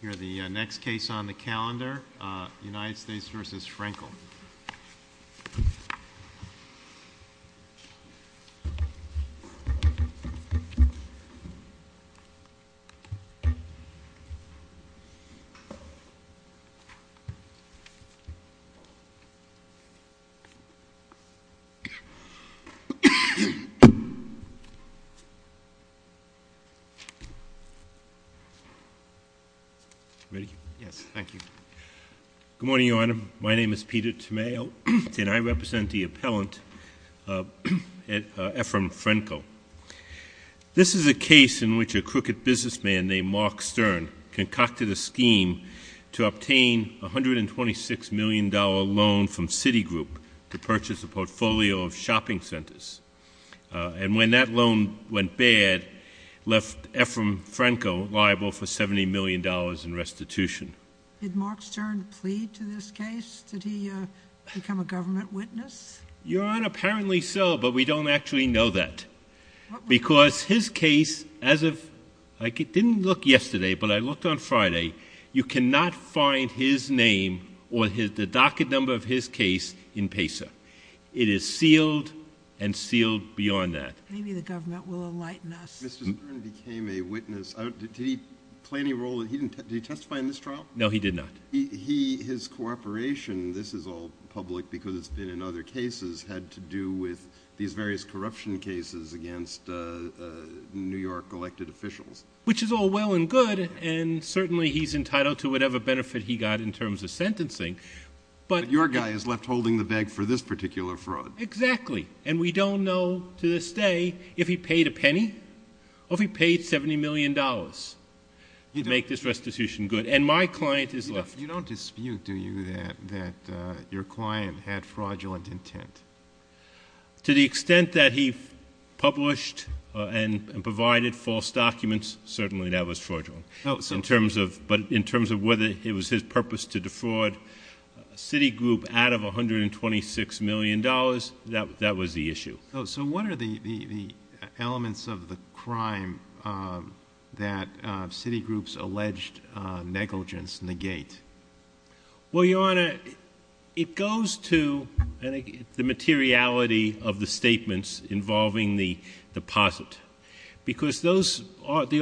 Here is the next case on the calendar, United States v. Frankel. Good morning, Your Honor. My name is Peter Tomeo, and I represent the appellant Ephraim Frankel. This is a case in which a crooked businessman named Mark Stern concocted a scheme to obtain a $126 million loan from Citigroup to purchase a portfolio of shopping centers. And when that loan went bad, left Ephraim Frankel liable for $70 million in restitution. Did Mark Stern plead to this case? Did he become a government witness? Your Honor, apparently so, but we don't actually know that. Because his case, as of, I didn't look yesterday, but I looked on Friday, you cannot find his name or the docket number of his case in PESA. It is sealed and sealed beyond that. Maybe the government will enlighten us. Mr. Stern became a witness. Did he play any role? Did he testify in this trial? No, he did not. His cooperation, this is all public because it's been in other cases, had to do with these various corruption cases against New York elected officials. Which is all well and good, and certainly he's entitled to whatever benefit he got in terms of sentencing. But your guy is left holding the bag for this particular fraud. Exactly. And we don't know to this day if he paid a penny or if he paid $70 million to make this restitution good. And my client is left. You don't dispute, do you, that your client had fraudulent intent? To the extent that he published and provided false documents, certainly that was fraudulent. But in terms of whether it was his purpose to defraud Citigroup out of $126 million, that was the issue. So what are the elements of the crime that Citigroup's alleged negligence negate? Well, Your Honor, it goes to the materiality of the statements involving the deposit. Because the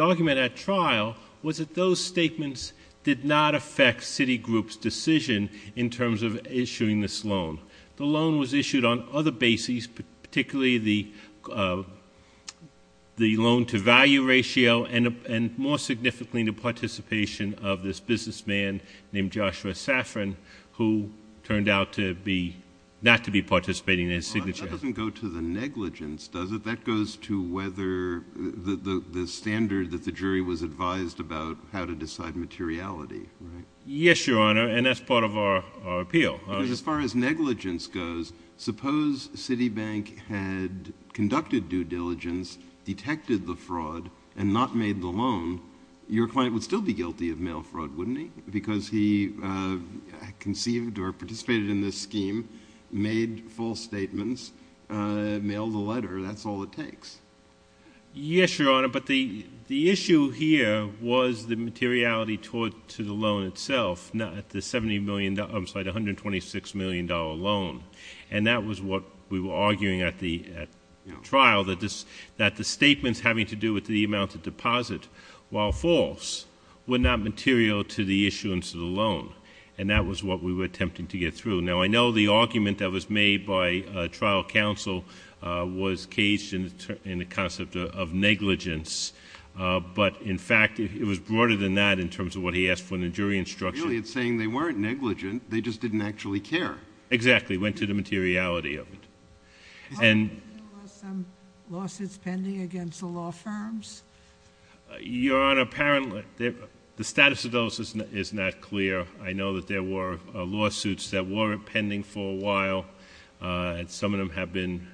argument at trial was that those statements did not affect Citigroup's decision in terms of issuing this loan. The loan was issued on other bases, particularly the loan-to-value ratio, and more significantly, the participation of this businessman named Joshua Safran, who turned out not to be participating in his signature. But that doesn't go to the negligence, does it? That goes to whether the standard that the jury was advised about how to decide materiality, right? Yes, Your Honor, and that's part of our appeal. Because as far as negligence goes, suppose Citibank had conducted due diligence, detected the fraud, and not made the loan, your client would still be guilty of mail fraud, wouldn't he? Because he conceived or participated in this scheme, made false statements, mailed a letter. That's all it takes. Yes, Your Honor, but the issue here was the materiality to the loan itself, not the $126 million loan. And that was what we were arguing at the trial, that the statements having to do with the amount of deposit, while false, were not material to the issuance of the loan. And that was what we were attempting to get through. Now, I know the argument that was made by trial counsel was caged in the concept of negligence, but, in fact, it was broader than that in terms of what he asked for in the jury instruction. Really, it's saying they weren't negligent, they just didn't actually care. Exactly, it went to the materiality of it. How many lawsuits pending against the law firms? Your Honor, apparently, the status of those is not clear. I know that there were lawsuits that were pending for a while, and some of them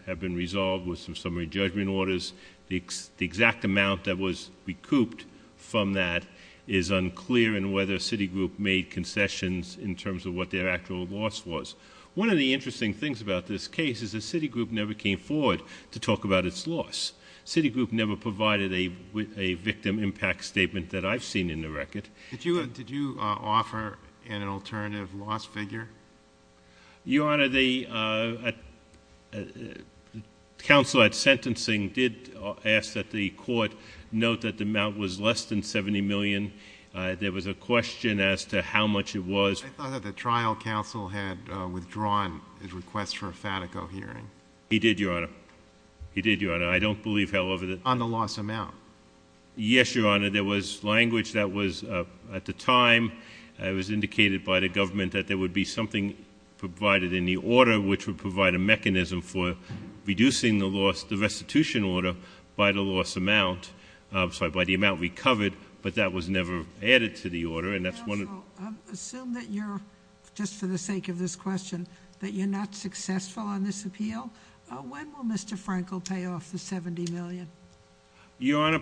have been resolved with some summary judgment orders. The exact amount that was recouped from that is unclear in whether Citigroup made concessions in terms of what their actual loss was. One of the interesting things about this case is that Citigroup never came forward to talk about its loss. Citigroup never provided a victim impact statement that I've seen in the record. Did you offer an alternative loss figure? Your Honor, the counsel at sentencing did ask that the court note that the amount was less than $70 million. There was a question as to how much it was. I thought that the trial counsel had withdrawn his request for a Fatico hearing. He did, Your Honor. He did, Your Honor. I don't believe, however, that On the loss amount. Yes, Your Honor, there was language that was, at the time, it was indicated by the government that there would be something provided in the order which would provide a mechanism for reducing the loss, the restitution order by the loss amount, sorry, by the amount recovered, but that was never added to the order. Counsel, assume that you're, just for the sake of this question, that you're not successful on this appeal. When will Mr. Franco pay off the $70 million? Your Honor,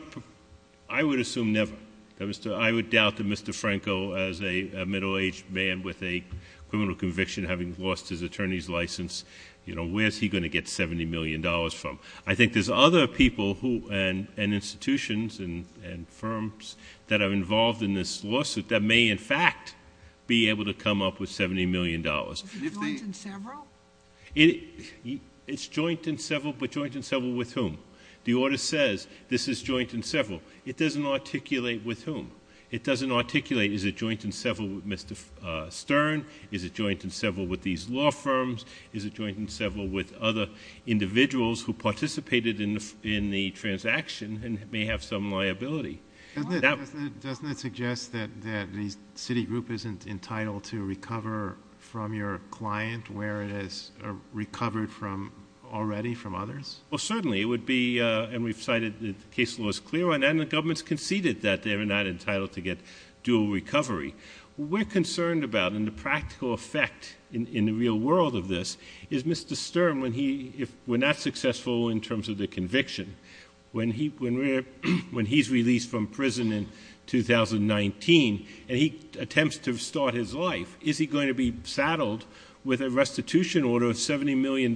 I would assume never. I would doubt that Mr. Franco, as a middle-aged man with a criminal conviction, having lost his attorney's license, where's he going to get $70 million from? I think there's other people and institutions and firms that are involved in this lawsuit that may, in fact, be able to come up with $70 million. Is it joint and several? It's joint and several, but joint and several with whom? The order says this is joint and several. It doesn't articulate with whom. It doesn't articulate, is it joint and several with Mr. Stern? Is it joint and several with these law firms? Is it joint and several with other individuals who participated in the transaction and may have some liability? Doesn't it suggest that the Citigroup isn't entitled to recover from your client where it has recovered from already from others? Well, certainly it would be, and we've cited the case law is clear on that, and the government's conceded that they're not entitled to get dual recovery. What we're concerned about, and the practical effect in the real world of this, is Mr. Stern, if we're not successful in terms of the conviction, when he's released from prison in 2019 and he attempts to start his life, is he going to be saddled with a restitution order of $70 million,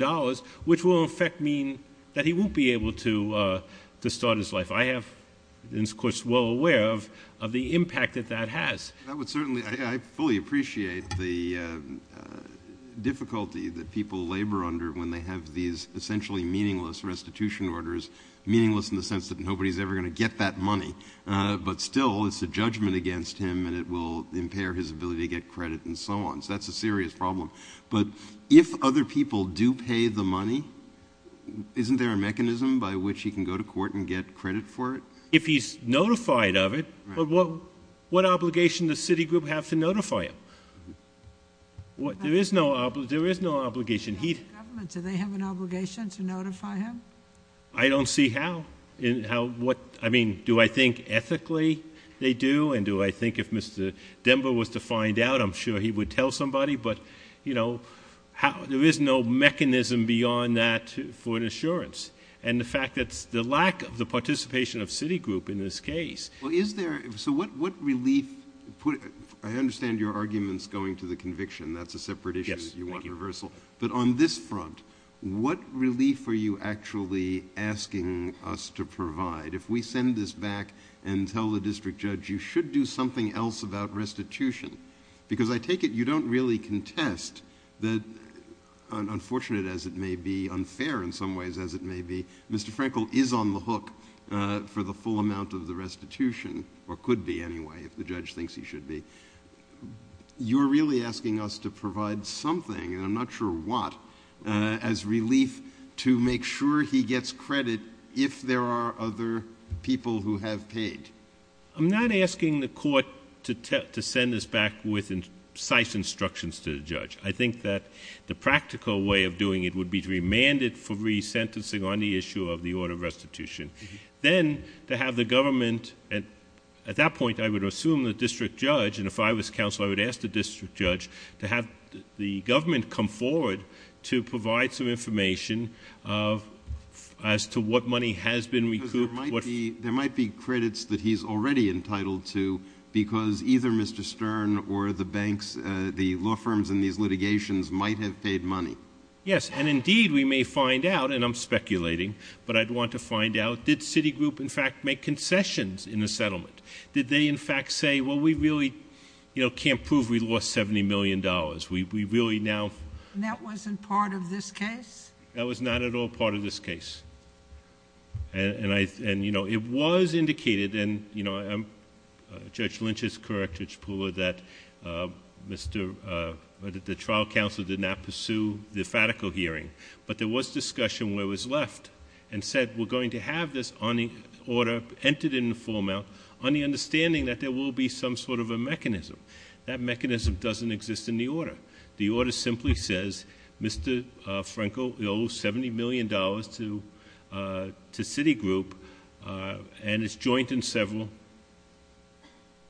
which will in fact mean that he won't be able to start his life? I am, of course, well aware of the impact that that has. I would certainly, I fully appreciate the difficulty that people labor under when they have these essentially meaningless restitution orders, meaningless in the sense that nobody's ever going to get that money, but still it's a judgment against him and it will impair his ability to get credit and so on. So that's a serious problem. But if other people do pay the money, isn't there a mechanism by which he can go to court and get credit for it? If he's notified of it, what obligation does Citigroup have to notify him? There is no obligation. Do they have an obligation to notify him? I don't see how. I mean, do I think ethically they do, and do I think if Mr. Denver was to find out, I'm sure he would tell somebody, but there is no mechanism beyond that for an assurance. And the fact that the lack of the participation of Citigroup in this case... Well, is there... so what relief... I understand your argument's going to the conviction. That's a separate issue. Yes, thank you. You want reversal. But on this front, what relief are you actually asking us to provide? If we send this back and tell the district judge, you should do something else about restitution. Because I take it you don't really contest that, unfortunate as it may be, unfair in some ways as it may be. Mr. Frankel is on the hook for the full amount of the restitution, or could be anyway, if the judge thinks he should be. You're really asking us to provide something, and I'm not sure what, as relief to make sure he gets credit if there are other people who have paid. I'm not asking the court to send this back with precise instructions to the judge. I think that the practical way of doing it would be to remand it for resentencing on the issue of the order of restitution. Then, to have the government... at that point, I would assume the district judge, and if I was counsel, I would ask the district judge to have the government come forward to provide some information as to what money has been recouped. Because there might be credits that he's already entitled to, because either Mr. Stern or the banks, the law firms in these litigations might have paid money. Yes, and indeed we may find out, and I'm speculating, but I'd want to find out, did Citigroup in fact make concessions in the settlement? Did they in fact say, well, we really can't prove we lost $70 million. We really now... That wasn't part of this case? That was not at all part of this case. It was indicated, and Judge Lynch is correct, Judge Pooler, that the trial counsel did not pursue the fatical hearing, but there was discussion where it was left and said, we're going to have this order entered in the full amount on the understanding that there will be some sort of a mechanism. That mechanism doesn't exist in the order. The order simply says, Mr. Franco owes $70 million to Citigroup, and it's joint in several,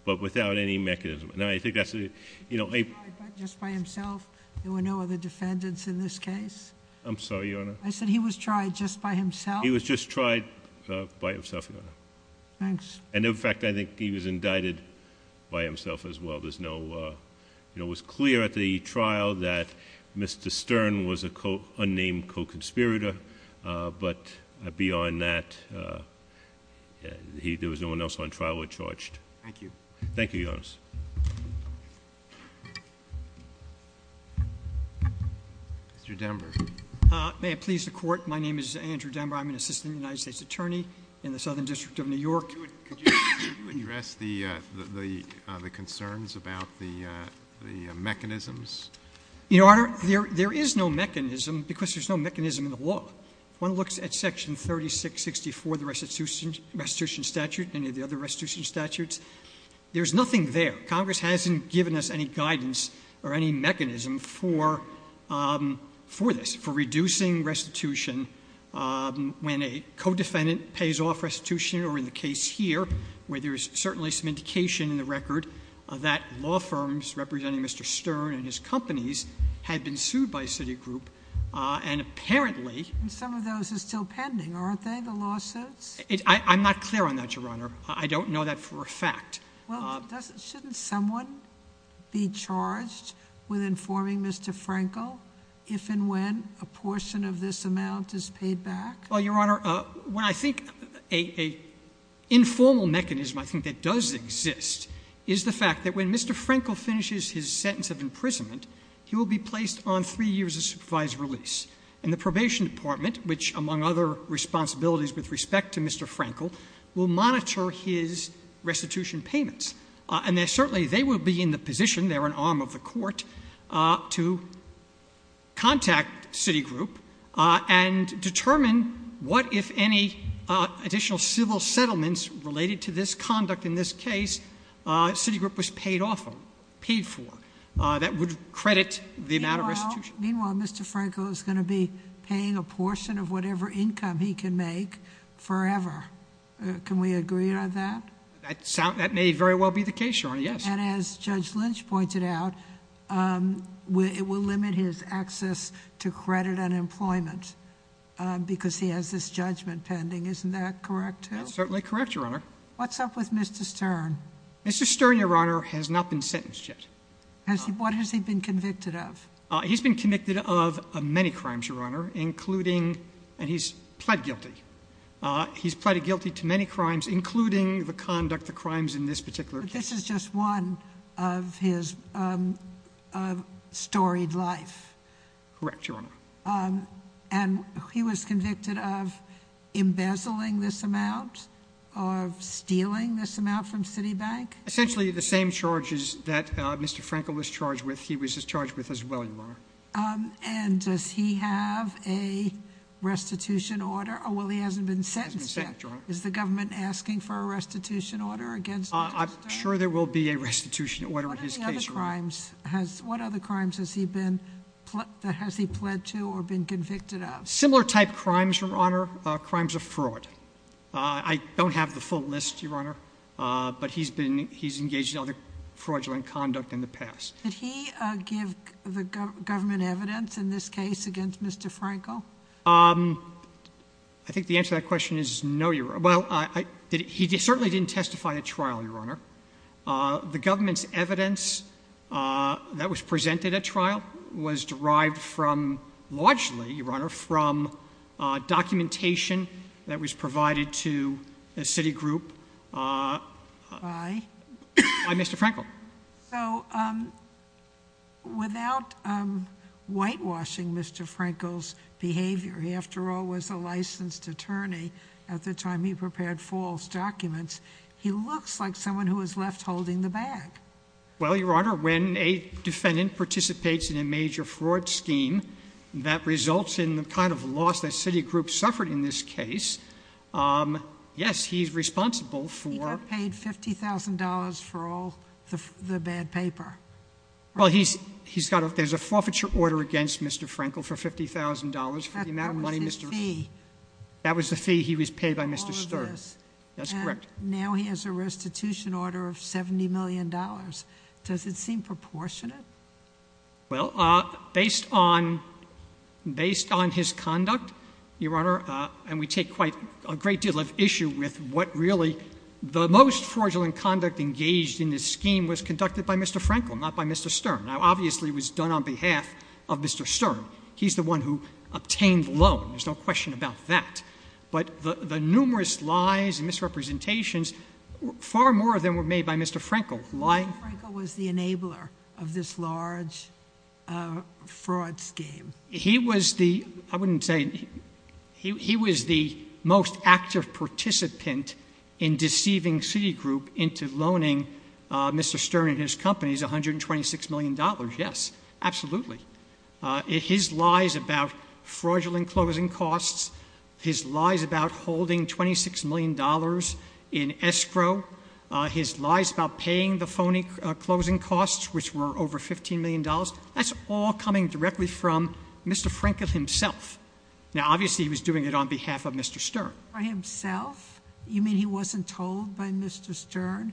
but without any mechanism. And I think that's... He was tried just by himself? There were no other defendants in this case? I'm sorry, Your Honor? I said he was tried just by himself? He was just tried by himself, Your Honor. Thanks. And in fact, I think he was indicted by himself as well. There's no... It was clear at the trial that Mr. Stern was an unnamed co-conspirator, but beyond that, there was no one else on trial who was charged. Thank you. Thank you, Your Honor. Mr. Denver. May it please the Court? My name is Andrew Denver. I'm an assistant United States attorney in the Southern District of New York. Could you address the concerns about the mechanisms? Your Honor, there is no mechanism, because there's no mechanism in the law. If one looks at Section 3664 of the restitution statute, any of the other restitution statutes, there's nothing there. Congress hasn't given us any guidance or any mechanism for this, for reducing restitution when a co-defendant pays off restitution, or in the case here, where there is certainly some indication in the record that law firms representing Mr. Stern and his companies had been sued by Citigroup, and apparently... And some of those are still pending, aren't they, the lawsuits? I'm not clear on that, Your Honor. I don't know that for a fact. Well, shouldn't someone be charged with informing Mr. Frankel if and when a portion of this amount is paid back? Well, Your Honor, when I think... An informal mechanism, I think, that does exist is the fact that when Mr. Frankel finishes his sentence of imprisonment, he will be placed on three years of supervised release. And the Probation Department, which among other responsibilities with respect to Mr. And certainly, they will be in the position, they're an arm of the court, to contact Citigroup and determine what, if any, additional civil settlements related to this conduct in this case, Citigroup was paid off of, paid for, that would credit the amount of restitution. Meanwhile, Mr. Frankel is going to be paying a portion of whatever income he can make forever. Can we agree on that? That may very well be the case, Your Honor, yes. And as Judge Lynch pointed out, it will limit his access to credit and employment because he has this judgment pending. Isn't that correct, too? That's certainly correct, Your Honor. What's up with Mr. Stern? Mr. Stern, Your Honor, has not been sentenced yet. What has he been convicted of? He's been convicted of many crimes, Your Honor, including... and he's pled guilty. He's pled guilty to many crimes, including the conduct of crimes in this particular case. But this is just one of his storied life. Correct, Your Honor. And he was convicted of embezzling this amount, of stealing this amount from Citibank? Essentially, the same charges that Mr. Frankel was charged with, he was charged with as well, Your Honor. And does he have a restitution order? Oh, well, he hasn't been sentenced yet. He hasn't been sentenced, Your Honor. Is the government asking for a restitution order against Mr. Stern? I'm sure there will be a restitution order in his case, Your Honor. What other crimes has he been... has he pled to or been convicted of? Similar type crimes, Your Honor, crimes of fraud. I don't have the full list, Your Honor, but he's engaged in other fraudulent conduct in the past. Did he give the government evidence in this case against Mr. Frankel? I think the answer to that question is no, Your Honor. Well, he certainly didn't testify at trial, Your Honor. The government's evidence that was presented at trial was derived from, largely, Your Honor, from documentation that was provided to the Citigroup by Mr. Frankel. So, without whitewashing Mr. Frankel's behavior—he, after all, was a licensed attorney at the time he prepared false documents— he looks like someone who was left holding the bag. Well, Your Honor, when a defendant participates in a major fraud scheme that results in the kind of loss that Citigroup suffered in this case, yes, he's responsible for... for all the bad paper, right? Well, he's got a—there's a forfeiture order against Mr. Frankel for $50,000 for the amount of money Mr.... That was his fee. That was the fee he was paid by Mr. Sterk. All of this. That's correct. And now he has a restitution order of $70 million. Does it seem proportionate? Well, based on his conduct, Your Honor, and we take quite a great deal of issue with what really... The most fraudulent conduct engaged in this scheme was conducted by Mr. Frankel, not by Mr. Sterk. Now, obviously, it was done on behalf of Mr. Sterk. He's the one who obtained the loan. There's no question about that. But the numerous lies and misrepresentations, far more of them were made by Mr. Frankel. Mr. Frankel was the enabler of this large fraud scheme. He was the—I wouldn't say—he was the most active participant in deceiving Citigroup into loaning Mr. Stern and his company $126 million. Yes, absolutely. His lies about fraudulent closing costs, his lies about holding $26 million in escrow, his lies about paying the phony closing costs, which were over $15 million, that's all coming directly from Mr. Frankel himself. Now, obviously, he was doing it on behalf of Mr. Stern. By himself? You mean he wasn't told by Mr. Stern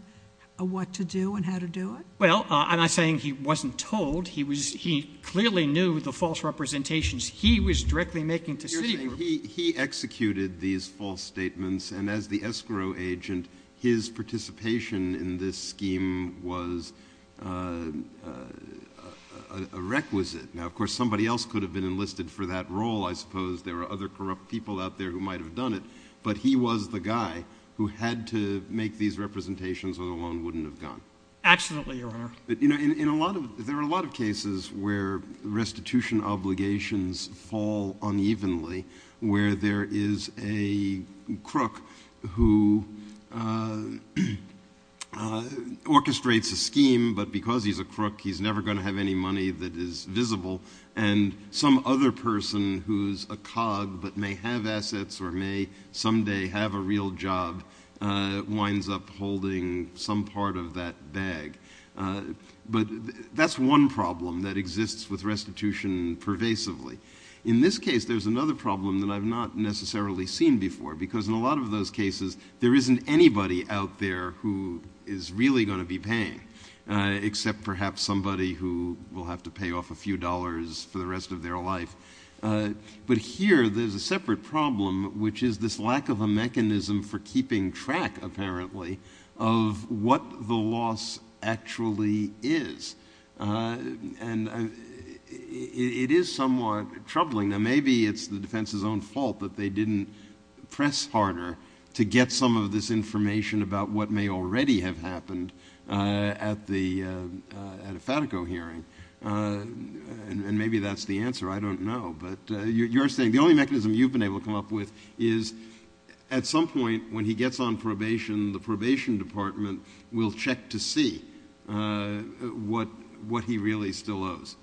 what to do and how to do it? Well, I'm not saying he wasn't told. He clearly knew the false representations he was directly making to Citigroup. He executed these false statements, and as the escrow agent, his participation in this scheme was a requisite. Now, of course, somebody else could have been enlisted for that role. I suppose there are other corrupt people out there who might have done it. But he was the guy who had to make these representations or the loan wouldn't have gone. Absolutely, Your Honor. There are a lot of cases where restitution obligations fall unevenly, where there is a crook who orchestrates a scheme, but because he's a crook he's never going to have any money that is visible, and some other person who's a cog but may have assets or may someday have a real job winds up holding some part of that bag. But that's one problem that exists with restitution pervasively. In this case, there's another problem that I've not necessarily seen before, because in a lot of those cases there isn't anybody out there who is really going to be paying, except perhaps somebody who will have to pay off a few dollars for the rest of their life. But here there's a separate problem, which is this lack of a mechanism for keeping track, apparently, of what the loss actually is. And it is somewhat troubling. Now, maybe it's the defense's own fault that they didn't press harder to get some of this information about what may already have happened at the FATICO hearing. And maybe that's the answer. I don't know. But you're saying the only mechanism you've been able to come up with is at some point when he gets on probation, the probation department will check to see what he really still owes.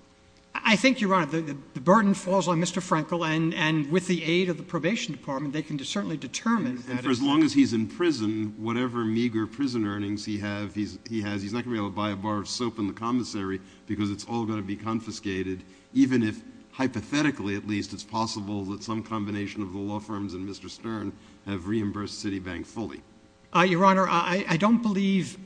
I think you're right. The burden falls on Mr. Frankel, and with the aid of the probation department they can certainly determine. And for as long as he's in prison, whatever meager prison earnings he has, he's not going to be able to buy a bar of soap in the commissary because it's all going to be confiscated, even if, hypothetically at least, it's possible that some combination of the law firms and Mr. Stern have reimbursed Citibank fully. Your Honor, I don't believe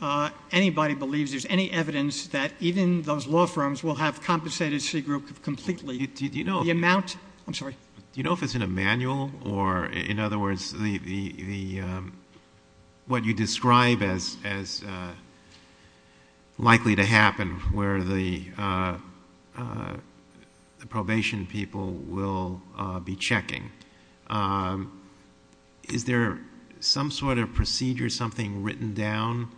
anybody believes there's any evidence that even those law firms will have compensated C Group completely. Do you know if it's in a manual? Or, in other words, what you describe as likely to happen, where the probation people will be checking. Is there some sort of procedure, something written down?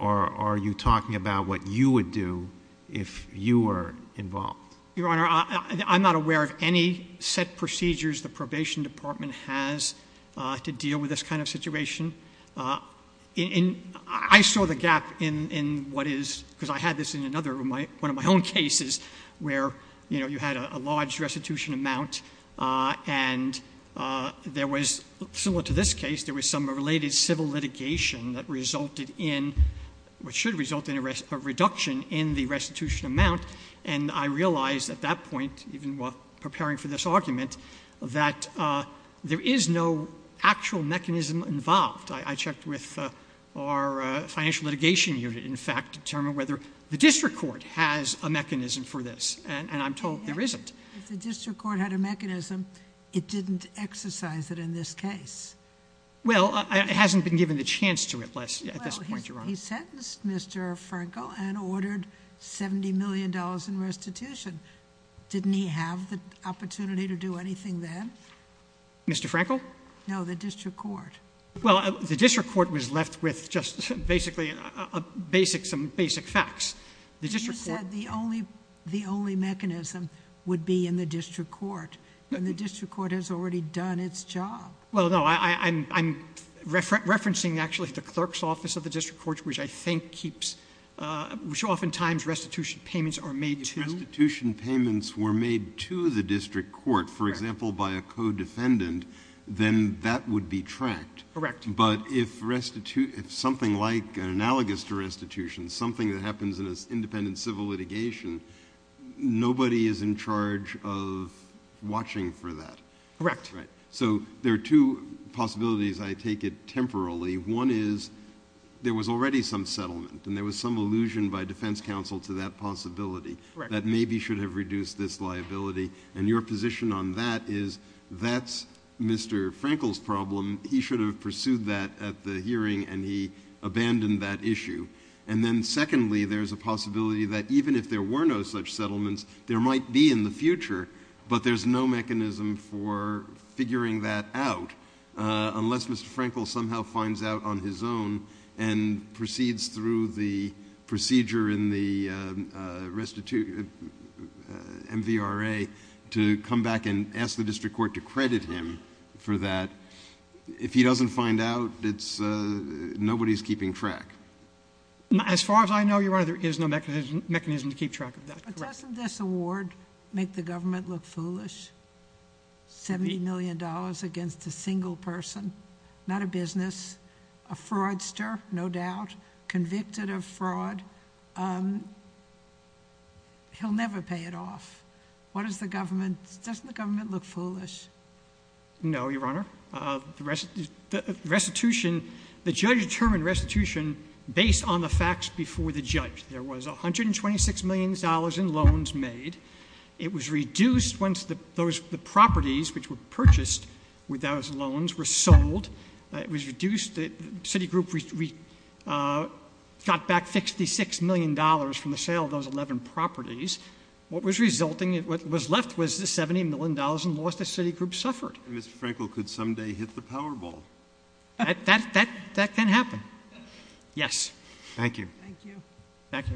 Or are you talking about what you would do if you were involved? Your Honor, I'm not aware of any set procedures the probation department has to deal with this kind of situation. I saw the gap in what is, because I had this in another one of my own cases, where you had a large restitution amount and there was, similar to this case, there was some related civil litigation that resulted in, which should result in a reduction in the restitution amount. And I realized at that point, even while preparing for this argument, that there is no actual mechanism involved. I checked with our financial litigation unit, in fact, to determine whether the district court has a mechanism for this. And I'm told there isn't. If the district court had a mechanism, it didn't exercise it in this case. Well, it hasn't been given the chance to at this point, Your Honor. He sentenced Mr. Frankel and ordered $70 million in restitution. Didn't he have the opportunity to do anything then? Mr. Frankel? No, the district court. Well, the district court was left with just basically some basic facts. You said the only mechanism would be in the district court. And the district court has already done its job. Well, no, I'm referencing actually the clerk's office of the district court, which I think keeps, which oftentimes restitution payments are made to. If restitution payments were made to the district court, for example, by a co-defendant, then that would be tracked. Correct. But if something like an analogous to restitution, something that happens in an independent civil litigation, nobody is in charge of watching for that. Correct. Right. So there are two possibilities I take it temporarily. One is there was already some settlement and there was some allusion by defense counsel to that possibility that maybe should have reduced this liability. And your position on that is that's Mr. Frankel's problem. He should have pursued that at the hearing, and he abandoned that issue. And then secondly, there's a possibility that even if there were no such settlements, there might be in the future, but there's no mechanism for figuring that out unless Mr. Frankel somehow finds out on his own and proceeds through the procedure in the MVRA to come back and ask the district court to credit him for that. If he doesn't find out, nobody is keeping track. As far as I know, Your Honor, there is no mechanism to keep track of that. But doesn't this award make the government look foolish? $70 million against a single person. Not a business. A fraudster, no doubt. Convicted of fraud. He'll never pay it off. What does the government, doesn't the government look foolish? No, Your Honor. The restitution, the judge determined restitution based on the facts before the judge. There was $126 million in loans made. It was reduced once the properties which were purchased with those loans were sold. It was reduced, the city group got back $66 million from the sale of those 11 properties. What was resulting, what was left was the $70 million and lost as city group suffered. And Mr. Frankel could someday hit the Powerball. That can happen. Yes. Thank you. Thank you. Back to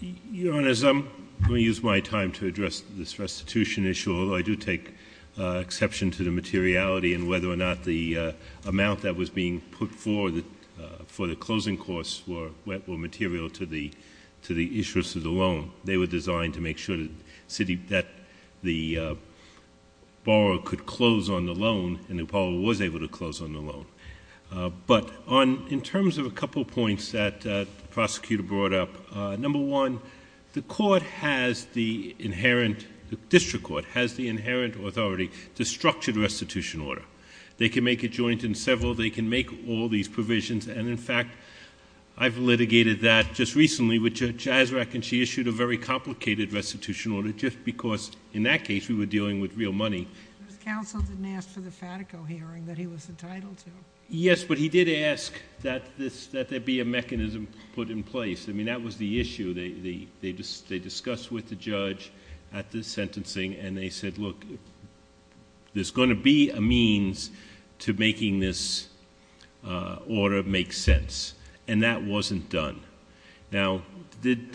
you, Your Honor. Your Honor, as I'm going to use my time to address this restitution issue, although I do take exception to the materiality and whether or not the amount that was being put forward for the closing costs were material to the issuance of the loan, they were designed to make sure that the borrower could close on the loan, and the Powerball was able to close on the loan. But in terms of a couple of points that the prosecutor brought up, number one, the district court has the inherent authority to structure the restitution order. They can make it joint in several. They can make all these provisions. And, in fact, I've litigated that just recently with Judge Azraq, and she issued a very complicated restitution order just because, in that case, we were dealing with real money. Counsel didn't ask for the Fatico hearing that he was entitled to. Yes, but he did ask that there be a mechanism put in place. I mean, that was the issue they discussed with the judge at the sentencing, and they said, look, there's going to be a means to making this order make sense, and that wasn't done. Now,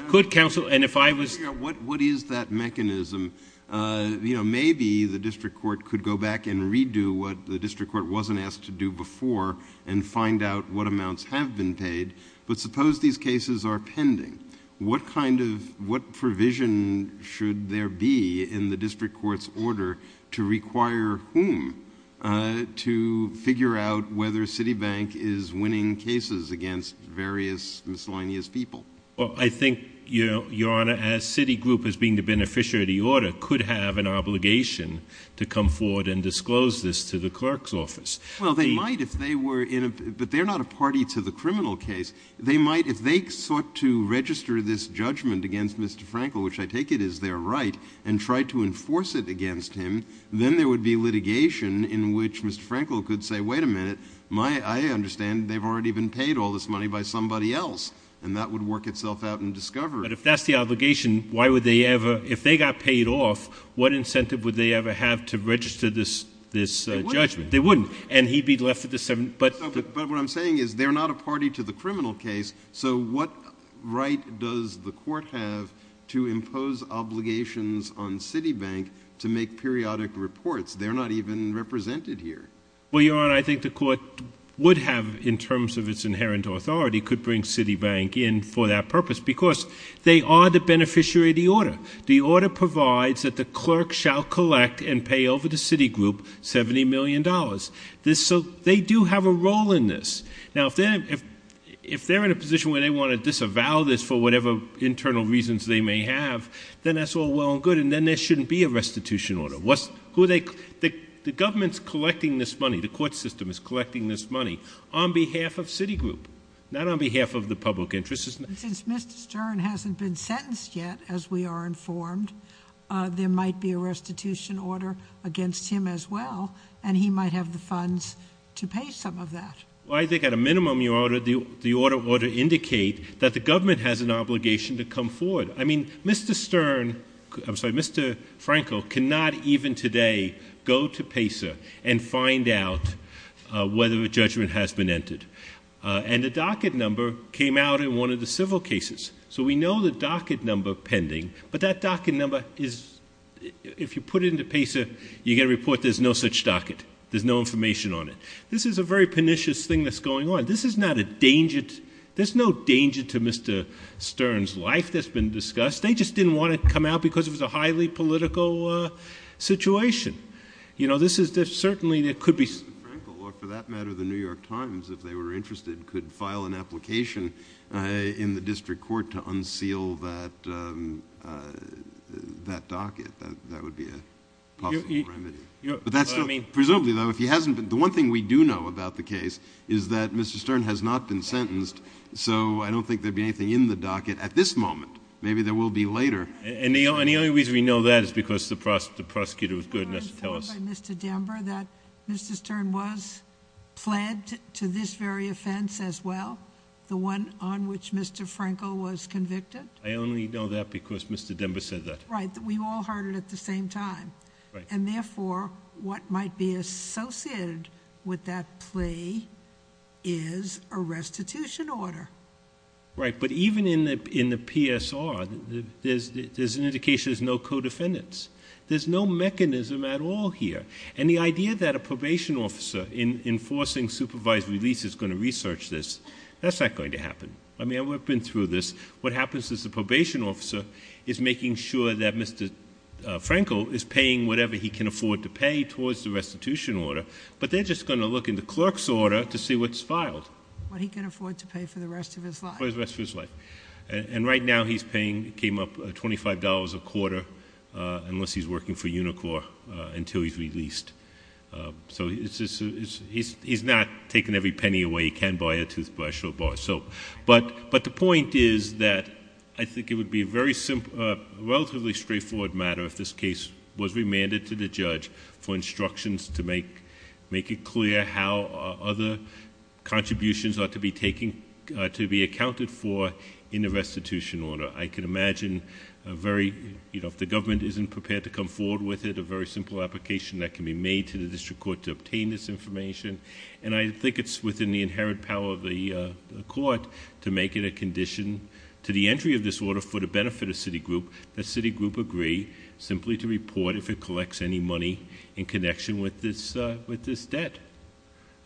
could counsel... What is that mechanism? You know, maybe the district court could go back and redo what the district court wasn't asked to do before and find out what amounts have been paid. But suppose these cases are pending. What kind of... What provision should there be in the district court's order to require whom to figure out whether Citibank is winning cases against various miscellaneous people? Well, I think, Your Honor, as Citigroup, as being the beneficiary of the order, could have an obligation to come forward and disclose this to the clerk's office. Well, they might if they were in a... But they're not a party to the criminal case. They might, if they sought to register this judgment against Mr. Frankel, which I take it is their right, and tried to enforce it against him, then there would be litigation in which Mr. Frankel could say, wait a minute, I understand they've already been paid all this money by somebody else, and that would work itself out in discovery. But if that's the obligation, why would they ever... If they got paid off, what incentive would they ever have to register this judgment? They wouldn't. They wouldn't, and he'd be left with the... But what I'm saying is they're not a party to the criminal case, so what right does the court have to impose obligations on Citibank to make periodic reports? They're not even represented here. Well, Your Honor, I think the court would have, in terms of its inherent authority, could bring Citibank in for that purpose because they are the beneficiary of the order. The order provides that the clerk shall collect and pay over to Citigroup $70 million. So they do have a role in this. Now, if they're in a position where they want to disavow this for whatever internal reasons they may have, then that's all well and good, and then there shouldn't be a restitution order. The government's collecting this money. The court system is collecting this money on behalf of Citigroup, not on behalf of the public interest. Since Mr. Stern hasn't been sentenced yet, as we are informed, there might be a restitution order against him as well, and he might have the funds to pay some of that. Well, I think at a minimum, Your Honor, the order ought to indicate that the government has an obligation to come forward. I mean, Mr. Stern, I'm sorry, Mr. Franco cannot even today go to PACER and find out whether a judgment has been entered. And the docket number came out in one of the civil cases. So we know the docket number pending, but that docket number is, if you put it into PACER, you get a report, there's no such docket. There's no information on it. This is a very pernicious thing that's going on. This is not a danger. There's no danger to Mr. Stern's life that's been discussed. They just didn't want to come out because it was a highly political situation. You know, this is certainly, it could be. Mr. Franco, or for that matter, the New York Times, if they were interested, could file an application in the district court to unseal that docket. That would be a possible remedy. Presumably, though, if he hasn't been, the one thing we do know about the case is that Mr. Stern has not been sentenced. So I don't think there'd be anything in the docket at this moment. Maybe there will be later. And the only reason we know that is because the prosecutor was good enough to tell us. I'm told by Mr. Dember that Mr. Stern was pled to this very offense as well, the one on which Mr. Franco was convicted. I only know that because Mr. Dember said that. Right. We all heard it at the same time. Right. And therefore, what might be associated with that plea is a restitution order. Right. But even in the PSR, there's an indication there's no co-defendants. There's no mechanism at all here. And the idea that a probation officer enforcing supervised release is going to research this, that's not going to happen. I mean, I've been through this. What happens is the probation officer is making sure that Mr. Franco is paying whatever he can afford to pay towards the restitution order. But they're just going to look in the clerk's order to see what's filed. What he can afford to pay for the rest of his life. For the rest of his life. And right now he's paying, came up $25 a quarter unless he's working for Unicor until he's released. So he's not taking every penny away. He can buy a toothbrush or a bar of soap. But the point is that I think it would be a relatively straightforward matter if this case was remanded to the judge for instructions to make it clear how other contributions are to be accounted for in the restitution order. I can imagine if the government isn't prepared to come forward with it, a very simple application that can be made to the district court to obtain this information. And I think it's within the inherent power of the court to make it a condition to the entry of this order for the benefit of Citigroup. That Citigroup agree simply to report if it collects any money in connection with this debt.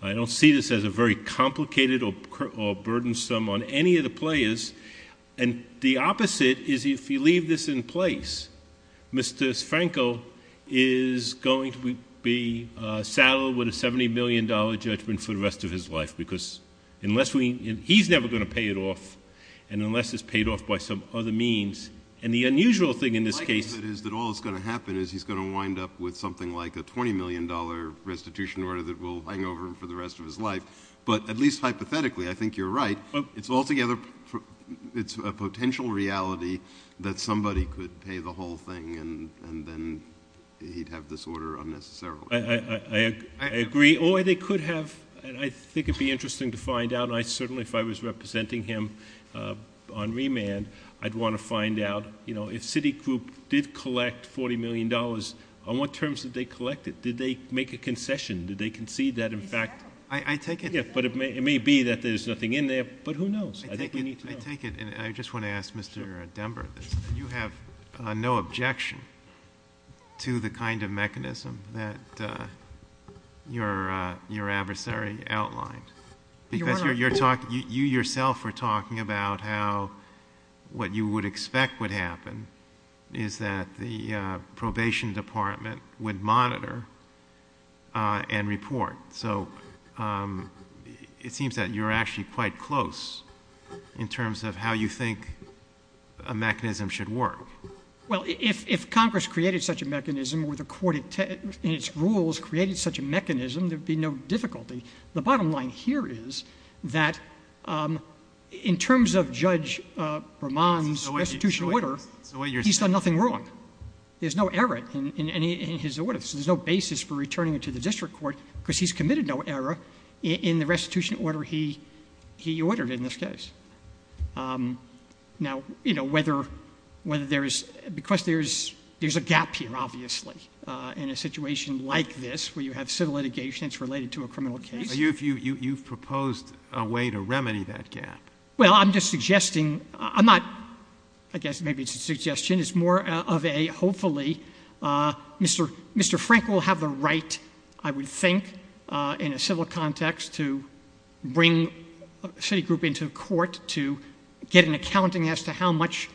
I don't see this as a very complicated or burdensome on any of the players. And the opposite is if you leave this in place, Mr. Sfranco is going to be saddled with a $70 million judgment for the rest of his life. Because unless we, he's never going to pay it off. And unless it's paid off by some other means. And the unusual thing in this case is that all that's going to happen is he's going to wind up with something like a $20 million restitution order that will hang over him for the rest of his life. But at least hypothetically, I think you're right. It's altogether, it's a potential reality that somebody could pay the whole thing and then he'd have this order unnecessarily. I agree. Or they could have, and I think it'd be interesting to find out. I certainly, if I was representing him on remand, I'd want to find out, you know, if Citigroup did collect $40 million, on what terms did they collect it? Did they make a concession? Did they concede that in fact? I take it. But it may be that there's nothing in there. But who knows? I think we need to know. I take it, and I just want to ask Mr. Denver this. You have no objection to the kind of mechanism that your adversary outlined? Because you yourself were talking about how what you would expect would happen is that the probation department would monitor and report. So it seems that you're actually quite close in terms of how you think a mechanism should work. Well, if Congress created such a mechanism or the court in its rules created such a mechanism, there'd be no difficulty. The bottom line here is that in terms of Judge Bramant's restitution order, he's done nothing wrong. There's no error in his order. So there's no basis for returning it to the district court because he's committed no error in the restitution order he ordered in this case. Now, you know, whether there is — because there's a gap here, obviously, in a situation like this where you have civil litigation that's related to a criminal case. You've proposed a way to remedy that gap. Well, I'm just suggesting — I'm not — I guess maybe it's a suggestion. It's more of a hopefully Mr. Frank will have the right, I would think, in a civil context to bring a city group into court to get an accounting as to how much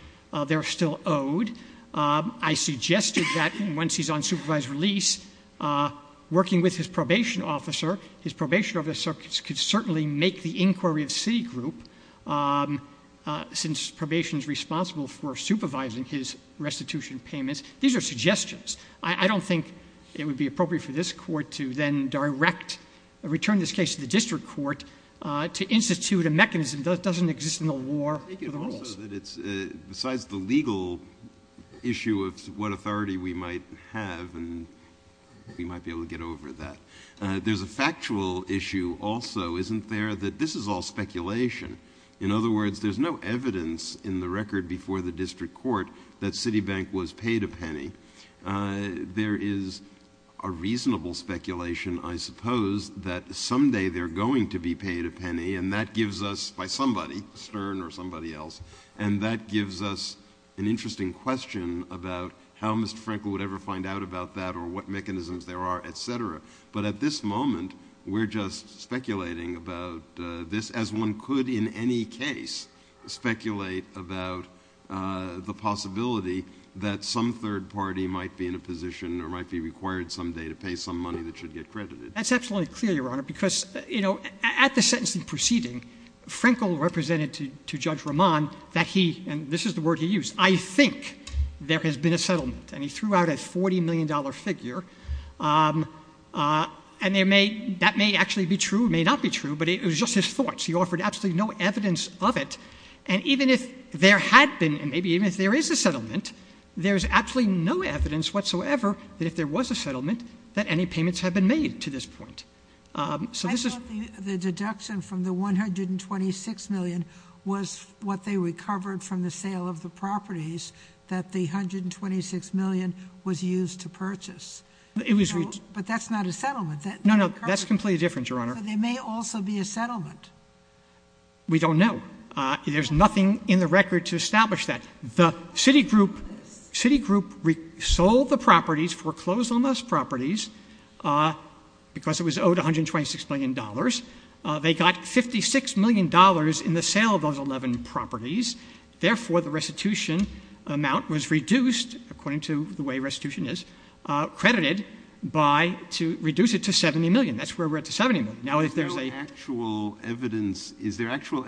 they're still owed. I suggested that once he's on supervised release, working with his probation officer, his probation officer could certainly make the inquiry of city group, since probation is responsible for supervising his restitution payments. These are suggestions. I don't think it would be appropriate for this court to then direct — return this case to the district court to institute a mechanism that doesn't exist in the law or the rules. Besides the legal issue of what authority we might have, and we might be able to get over that, there's a factual issue also, isn't there, that this is all speculation. In other words, there's no evidence in the record before the district court that Citibank was paid a penny. There is a reasonable speculation, I suppose, that someday they're going to be paid a penny, and that gives us — by somebody, Stern or somebody else, and that gives us an interesting question about how Mr. Frank would ever find out about that or what mechanisms there are, et cetera. But at this moment, we're just speculating about this, as one could in any case speculate about the possibility that some third party might be in a position or might be required someday to pay some money that should get credited. That's absolutely clear, Your Honor, because, you know, at the sentencing proceeding, Frankel represented to Judge Rahman that he — and this is the word he used — I think there has been a settlement, and he threw out a $40 million figure, and that may actually be true, may not be true, but it was just his thoughts. He offered absolutely no evidence of it, and even if there had been, and maybe even if there is a settlement, there's absolutely no evidence whatsoever that if there was a settlement, that any payments had been made to this point. So this is — I thought the deduction from the $126 million was what they recovered from the sale of the properties that the $126 million was used to purchase. It was — But that's not a settlement. No, no, that's completely different, Your Honor. So there may also be a settlement. We don't know. There's nothing in the record to establish that. The Citigroup — Citigroup sold the properties, foreclosed on those properties, because it was owed $126 million. They got $56 million in the sale of those 11 properties. Therefore, the restitution amount was reduced, according to the way restitution is, credited by — to reduce it to $70 million. That's where we're at, to $70 million. Now, if there's a — Is there actual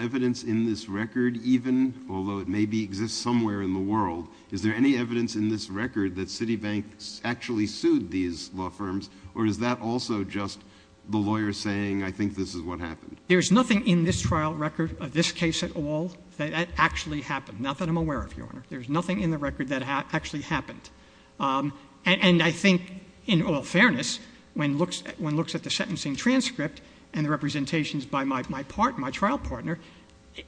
evidence in this record even, although it maybe exists somewhere in the world, is there any evidence in this record that Citibank actually sued these law firms? Or is that also just the lawyer saying, I think this is what happened? There's nothing in this trial record of this case at all that actually happened, not that I'm aware of, Your Honor. There's nothing in the record that actually happened. And I think, in all fairness, when one looks at the sentencing transcript and the representations by my trial partner,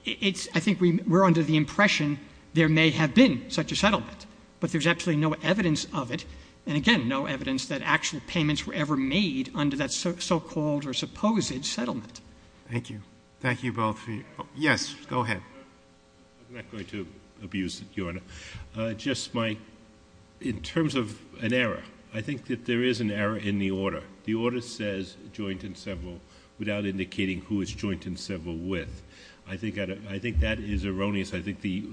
I think we're under the impression there may have been such a settlement. But there's absolutely no evidence of it, and again, no evidence that actual payments were ever made under that so-called or supposed settlement. Thank you. Thank you both. Yes, go ahead. I'm not going to abuse it, Your Honor. Just my — in terms of an error, I think that there is an error in the order. The order says joint and several without indicating who it's joint and several with. I think that is erroneous. I think the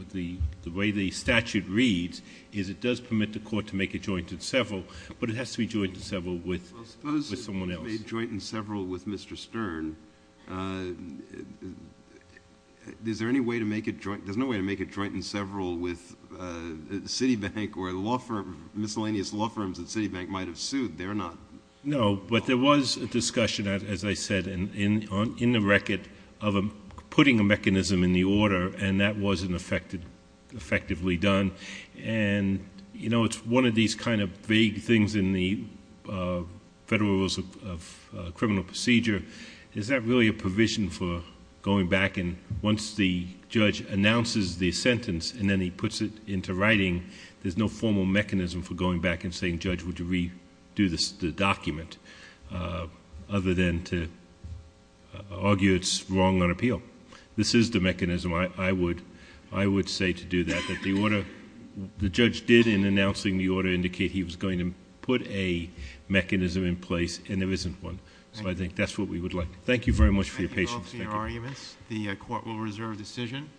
way the statute reads is it does permit the court to make a joint and several, but it has to be joint and several with someone else. Well, suppose it was made joint and several with Mr. Stern. Is there any way to make it joint? There's no way to make it joint and several with Citibank or a law firm, miscellaneous law firms that Citibank might have sued. They're not. No, but there was a discussion, as I said, in the record of putting a mechanism in the order, and that wasn't effectively done. And, you know, it's one of these kind of vague things in the Federal Rules of Criminal Procedure. Is that really a provision for going back and once the judge announces the sentence and then he puts it into writing, there's no formal mechanism for going back and saying, Judge, would you redo the document, other than to argue it's wrong on appeal? This is the mechanism. I would say to do that, that the order the judge did in announcing the order indicate he was going to put a mechanism in place, and there isn't one. So I think that's what we would like. Thank you very much for your patience. Thank you. Thank you both for your arguments. The court will reserve decision.